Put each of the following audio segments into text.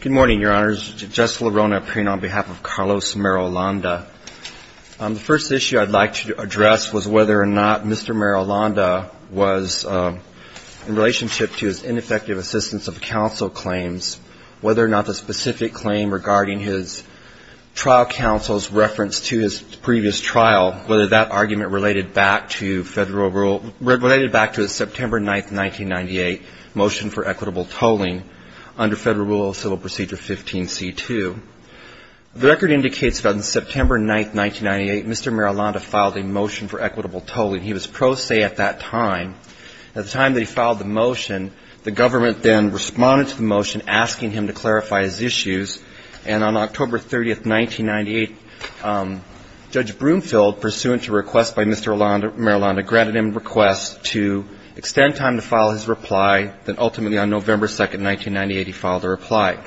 Good morning, Your Honors. Jess LaRona, appearing on behalf of Carlos Marulanda. The first issue I'd like to address was whether or not Mr. Marulanda was, in relationship to his ineffective assistance of counsel claims, whether or not the specific claim regarding his trial counsel's reference to his previous trial, whether that be under Federal Rule of Civil Procedure 15C2. The record indicates that on September 9, 1998, Mr. Marulanda filed a motion for equitable tolling. He was pro se at that time. At the time that he filed the motion, the government then responded to the motion asking him to clarify his issues, and on October 30, 1998, Judge Broomfield, pursuant to a request by Mr. Marulanda, granted him a request to extend time to file his reply, then ultimately on November 2, 1998, he filed a reply.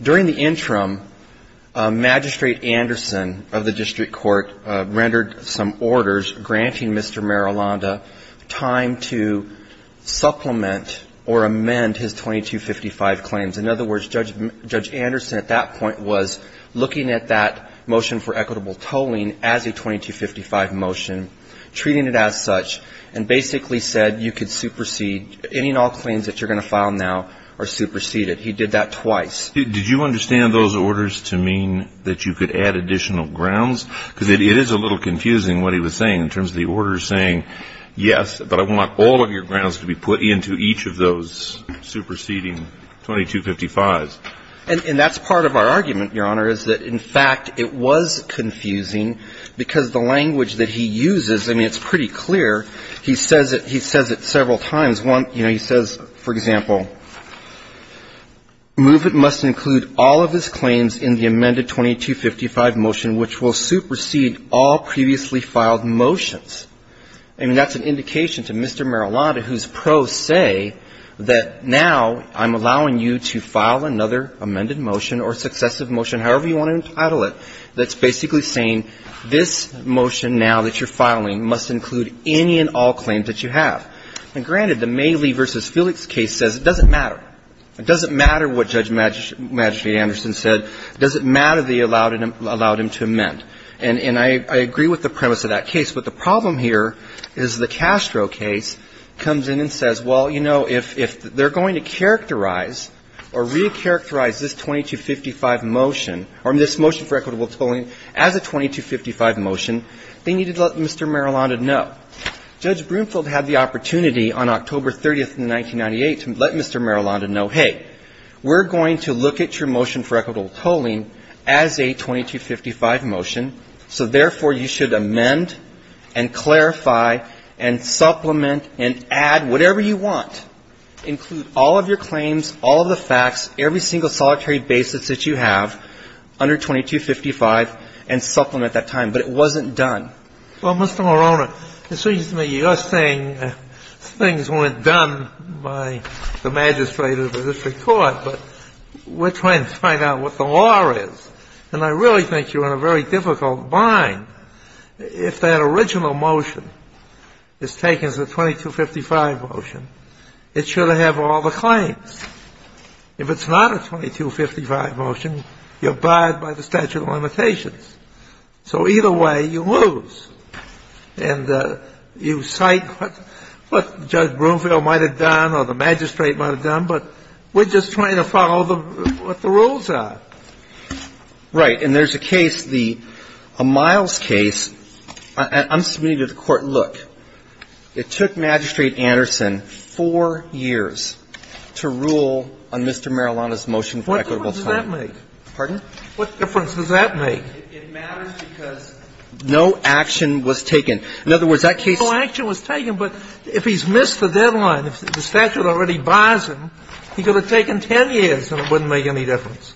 During the interim, Magistrate Anderson of the District Court rendered some orders granting Mr. Marulanda time to supplement or amend his 2255 claims. In other words, Judge Anderson at that point was looking at that motion for equitable tolling as a 2255 motion, treating it as such, and basically said you could supersede any and all claims that you're going to file now are superseded. He did that twice. Did you understand those orders to mean that you could add additional grounds? Because it is a little confusing what he was saying in terms of the orders saying, yes, but I want all of your grounds to be put into each of those superseding 2255s. And that's part of our argument, Your Honor, is that, in fact, it was confusing because the language that he uses, I mean, it's pretty clear. He says it several times. One, you know, he says, for example, movement must include all of his claims in the amended 2255 motion which will supersede all previously filed motions. I mean, that's an indication to Mr. Marulanda whose pros say that now I'm allowing you to file another amended motion or successive motion, however you want to entitle it, that's basically saying this motion now that you're filing must include any and all claims that you have. And granted, the Maley v. Felix case says it doesn't matter. It doesn't matter what Judge Magistrate Anderson said. It doesn't matter that he allowed him to amend. And I agree with the premise of that case. But the problem here is the Castro case comes in and says, well, you know, if they're going to characterize or recharacterize this 2255 motion or this motion for equitable tolling as a 2255 motion, they need to let Mr. Marulanda know. Judge Broomfield had the opportunity on October 30th in 1998 to let Mr. Marulanda know, hey, we're going to look at your motion for equitable tolling as a 2255 motion, so therefore you should amend and clarify and supplement and add whatever you want, including the claims, all of the facts, every single solitary basis that you have under 2255, and supplement that time. But it wasn't done. Well, Mr. Marulanda, it seems to me you're saying things weren't done by the magistrate of the district court, but we're trying to find out what the law is. And I really think you're in a very difficult bind. If that original motion is taken as a 2255 motion, it should have been If it's not a 2255 motion, you're barred by the statute of limitations. So either way, you lose. And you cite what Judge Broomfield might have done or the magistrate might have done, but we're just trying to follow what the rules are. Right. And there's a case, a Miles case. I'm submitting to the Court, look, it took Magistrate Anderson four years to rule on Mr. Marulanda's motion for equitable tolling. What difference does that make? Pardon? What difference does that make? It matters because no action was taken. In other words, that case — No action was taken, but if he's missed the deadline, if the statute already buys him, he could have taken 10 years and it wouldn't make any difference.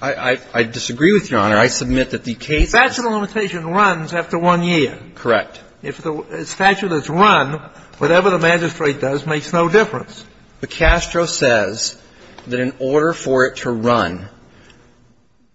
I disagree with you, Your Honor. I submit that the case — The statute of limitations runs after one year. Correct. If the statute is run, whatever the magistrate does makes no difference. But Castro says that in order for it to run,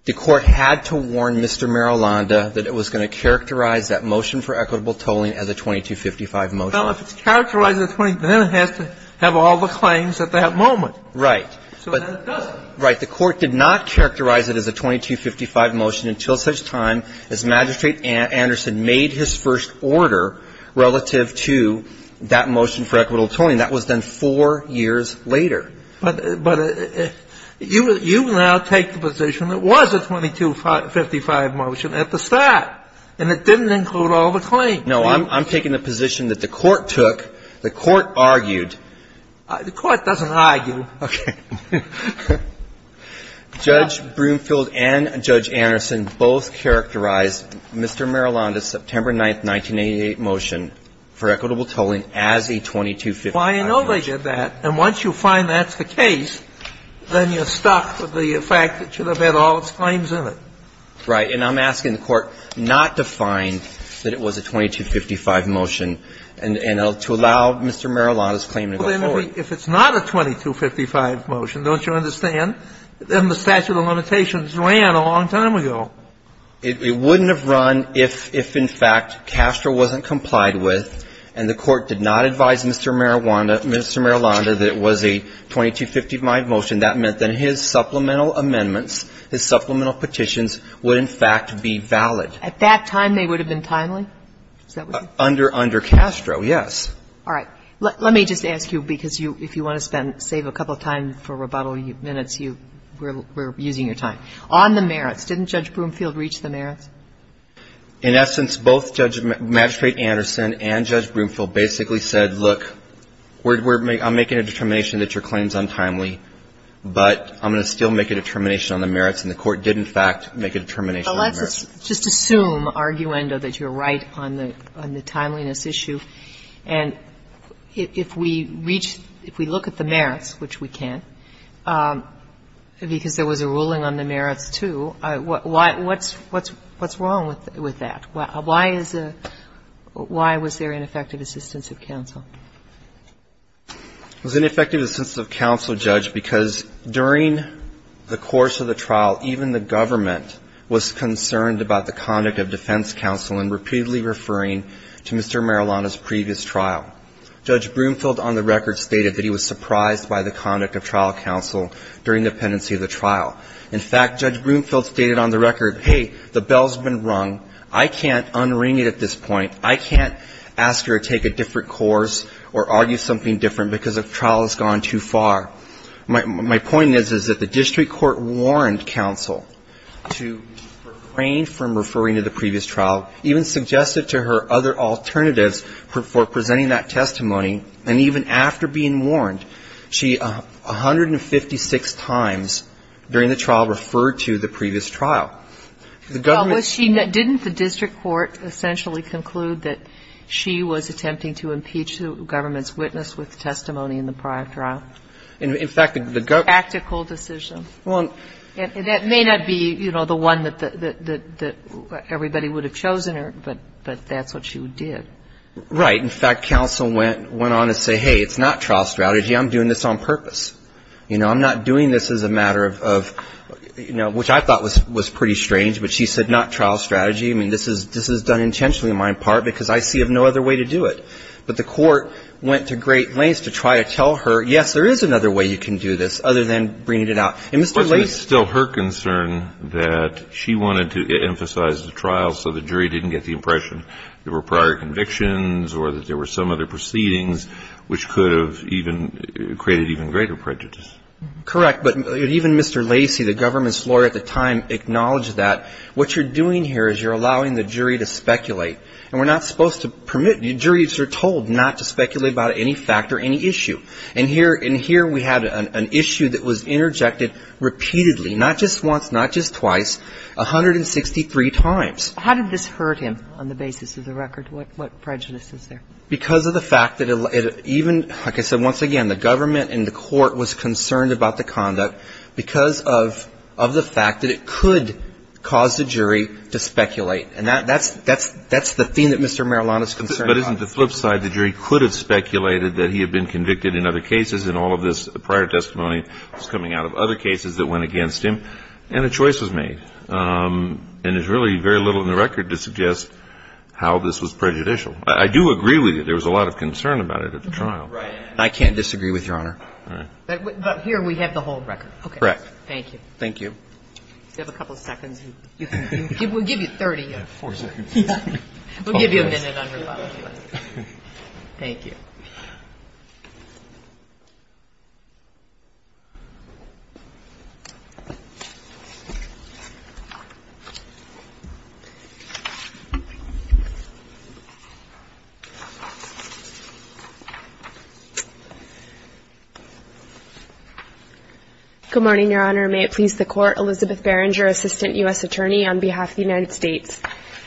the Court had to warn Mr. Marulanda that it was going to characterize that motion for equitable tolling as a 2255 motion. Well, if it's characterized as a 2255, then it has to have all the claims at that moment. Right. So then it doesn't. Right. The Court did not characterize it as a 2255 motion until such time as Magistrate Anderson made his first order relative to that motion for equitable tolling. That was then four years later. But you now take the position it was a 2255 motion at the start, and it didn't include all the claims. No. I'm taking the position that the Court took, the Court argued. The Court doesn't argue. Okay. Judge Broomfield and Judge Anderson both characterized Mr. Marulanda's September 9th, 1988 motion for equitable tolling as a 2255 motion. Well, I know they did that. And once you find that's the case, then you're stuck with the fact that you would have had all its claims in it. Right. And I'm asking the Court not to find that it was a 2255 motion and to allow Mr. Marulanda's claim to go forward. Well, then if it's not a 2255 motion, don't you understand, then the statute of limitations ran a long time ago. It wouldn't have run if in fact Castro wasn't complied with and the Court did not advise Mr. Marulanda that it was a 2255 motion. That meant then his supplemental amendments, his supplemental petitions would in fact be valid. At that time they would have been timely? Under Castro, yes. All right. Let me just ask you, because if you want to save a couple of time for rebuttal minutes, we're using your time. On the merits, didn't Judge Broomfield reach the merits? In essence, both Magistrate Anderson and Judge Broomfield basically said, look, I'm making a determination that your claim is untimely, but I'm going to still make a determination on the merits. And the Court did in fact make a determination on the merits. But let's just assume, arguendo, that you're right on the timeliness issue. And if we reach, if we look at the merits, which we can, because there was a ruling on the merits, too, what's wrong with that? Why was there ineffective assistance of counsel? It was ineffective assistance of counsel, Judge, because during the course of the trial, even the government was concerned about the conduct of defense counsel and repeatedly referring to Mr. Marillona's previous trial. Judge Broomfield on the record stated that he was surprised by the conduct of trial counsel during the pendency of the trial. In fact, Judge Broomfield stated on the record, hey, the bell's been rung. I can't unring it at this point. I can't ask her to take a different course or argue something different because the trial has gone too far. My point is, is that the district court warned counsel to refrain from referring to the previous trial, even suggested to her other alternatives for presenting that testimony. And even after being warned, she 156 times during the trial referred to the previous trial. The government was concerned. Well, didn't the district court essentially conclude that she was attempting to impeach the government's witness with testimony in the prior trial? In fact, the government Practical decision. Well And that may not be, you know, the one that everybody would have chosen her, but that's what she did. Right. In fact, counsel went on to say, hey, it's not trial strategy. I'm doing this on purpose. You know, I'm not doing this as a matter of, you know, which I thought was pretty strange, but she said not trial strategy. I mean, this is done intentionally on my part because I see of no other way to do it. But the court went to great lengths to try to tell her, yes, there is another way you can do this other than bringing it out. And Mr. Lacey It was still her concern that she wanted to emphasize the trial so the jury didn't get the impression there were prior convictions or that there were some other proceedings which could have even created even greater prejudice. Correct. But even Mr. Lacey, the government's lawyer at the time, acknowledged that what you're doing here is you're allowing the jury to speculate. And we're not supposed to permit the jury to be told not to speculate about any fact or any issue. And here we had an issue that was interjected repeatedly, not just once, not just twice, 163 times. How did this hurt him on the basis of the record? What prejudice is there? Because of the fact that even, like I said, once again, the government and the court was concerned about the conduct because of the fact that it could cause the jury to speculate. And that's the theme that Mr. Marillon is concerned about. But isn't the flip side, the jury could have speculated that he had been convicted in other cases and all of this prior testimony was coming out of other cases that went against him and a choice was made. And there's really very little in the record to suggest how this was prejudicial. I do agree with you. There was a lot of concern about it at the trial. Right. I can't disagree with Your Honor. All right. But here we have the whole record. Correct. Thank you. Thank you. You have a couple of seconds. We'll give you 30. Four seconds. We'll give you a minute on rebuttal. Thank you. Good morning, Your Honor. May it please the Court, Elizabeth Berenger, Assistant U.S. Attorney on behalf of the United States.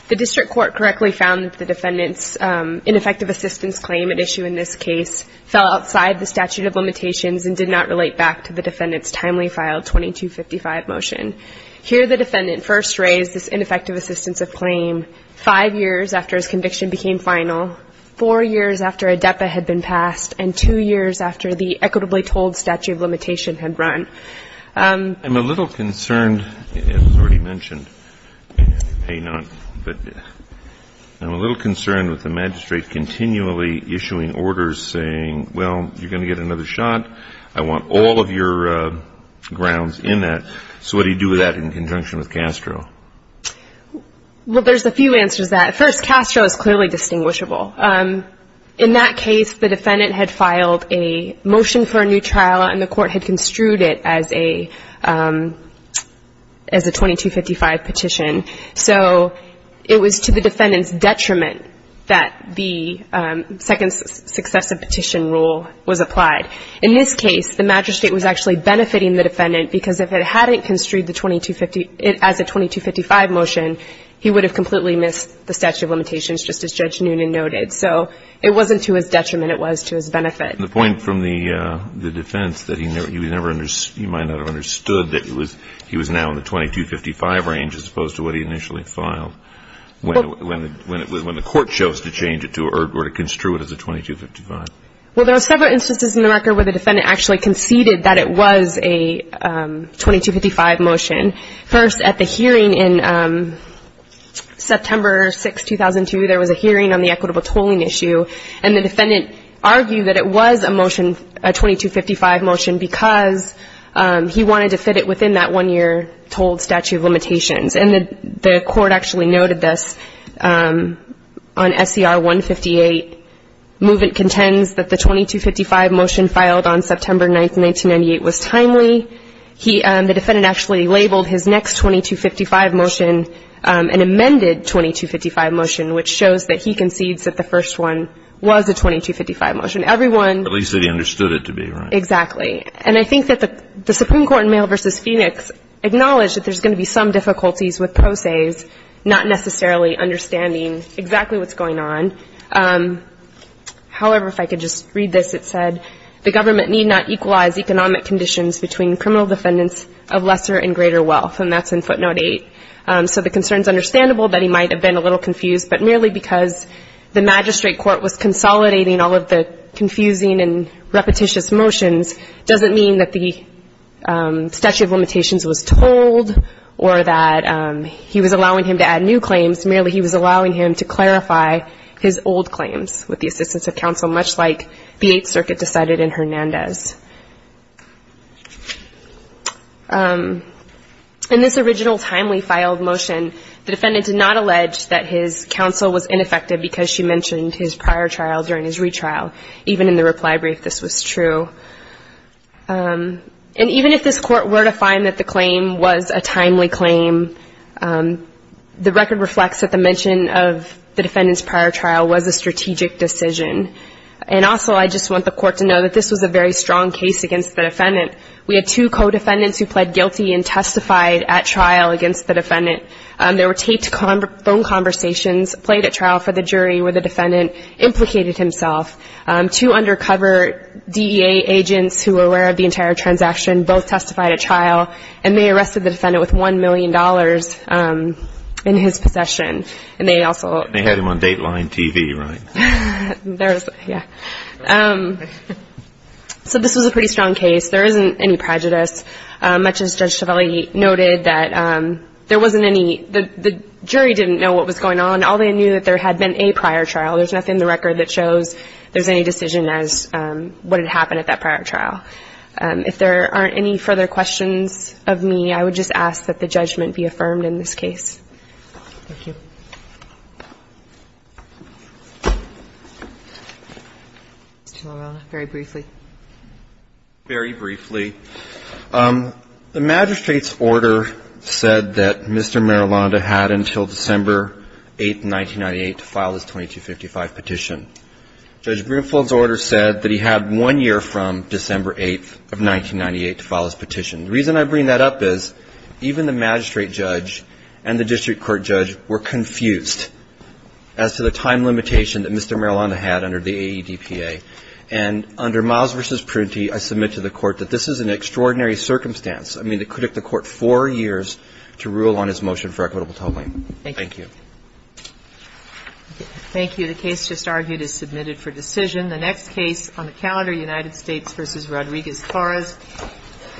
The district court correctly found that the defendant's ineffective assistance claim at issue in this case fell outside the statute of limitations and did not relate back to the defendant's timely file 2255 motion. Here the defendant first raised this ineffective assistance of claim five years after his conviction became final, four years after a DEPA had been passed, and two years after the equitably told statute of limitation had run. I'm a little concerned, as was already mentioned, but I'm a little concerned with the magistrate continually issuing orders saying, well, you're going to get another shot. I want all of your grounds in that. So what do you do with that in conjunction with Castro? Well, there's a few answers to that. First, Castro is clearly distinguishable. In that case, the defendant had filed a motion for a new trial, and the court had construed it as a 2255 petition. So it was to the defendant's detriment that the second successive petition rule was applied. In this case, the magistrate was actually benefiting the defendant, because if it hadn't construed it as a 2255 motion, he would have completely missed the statute of limitations, just as Judge Noonan noted. So it wasn't to his detriment. It was to his benefit. The point from the defense that he might not have understood that he was now in the 2255 range, as opposed to what he initially filed when the court chose to change it or to construe it as a 2255. Well, there are several instances in the record where the defendant actually conceded that it was a 2255 motion. First, at the hearing in September 6, 2002, there was a hearing on the equitable tolling issue, and the defendant argued that it was a motion, a 2255 motion, because he wanted to fit it within that one-year tolled statute of limitations. And the court actually noted this on SCR 158. Movement contends that the 2255 motion filed on September 9, 1998, was timely. The defendant actually labeled his next 2255 motion an amended 2255 motion, which shows that he concedes that the first one was a 2255 motion. Everyone --- At least that he understood it to be, right. Exactly. And I think that the Supreme Court in Mail v. Phoenix acknowledged that there's going to be some difficulties with pro ses not necessarily understanding exactly what's going on. However, if I could just read this, it said, the government need not equalize economic conditions between criminal defendants of lesser and greater wealth. And that's in footnote 8. So the concern is understandable that he might have been a little confused, but merely because the magistrate court was consolidating all of the confusing and repetitious motions doesn't mean that the statute of limitations was told or that he was allowing him to add new claims. Merely he was allowing him to clarify his old claims with the assistance of counsel, much like the Eighth Circuit decided in Hernandez. In this original timely filed motion, the defendant did not allege that his counsel was ineffective because she mentioned his prior trial during his retrial, even in the reply brief this was true. And even if this court were to find that the claim was a timely claim, the record reflects that the mention of the defendant's prior trial was a strategic decision. And also I just want the court to know that this was a very strong case against the defendant. We had two co-defendants who pled guilty and testified at trial against the defendant. There were taped phone conversations played at trial for the jury where the defendant implicated himself. Two undercover DEA agents who were aware of the entire transaction both testified at trial and they arrested the defendant with $1 million in his possession. And they also ---- They had him on Dateline TV, right? Yeah. So this was a pretty strong case. There isn't any prejudice, much as Judge Tovelli noted, that there wasn't any ---- the jury didn't know what was going on. All they knew that there had been a prior trial. There's nothing in the record that shows there's any decision as what had happened at that prior trial. If there aren't any further questions of me, I would just ask that the judgment be affirmed in this case. Thank you. Mr. LaRona, very briefly. Very briefly. The magistrate's order said that Mr. Marilonda had until December 8, 1998, to file his 2255 petition. Judge Greenfield's order said that he had one year from December 8, 1998, to file his petition. The reason I bring that up is even the magistrate judge and the district court judge were confused as to the time limitation that Mr. Marilonda had under the AEDPA. And under Miles v. Prunty, I submit to the Court that this is an extraordinary circumstance. I mean, it took the Court four years to rule on his motion for equitable tolling. Thank you. Thank you. Thank you. The case just argued is submitted for decision. The next case on the calendar, United States v. Rodriguez-Claras, is ---- The next case on the calendar is ----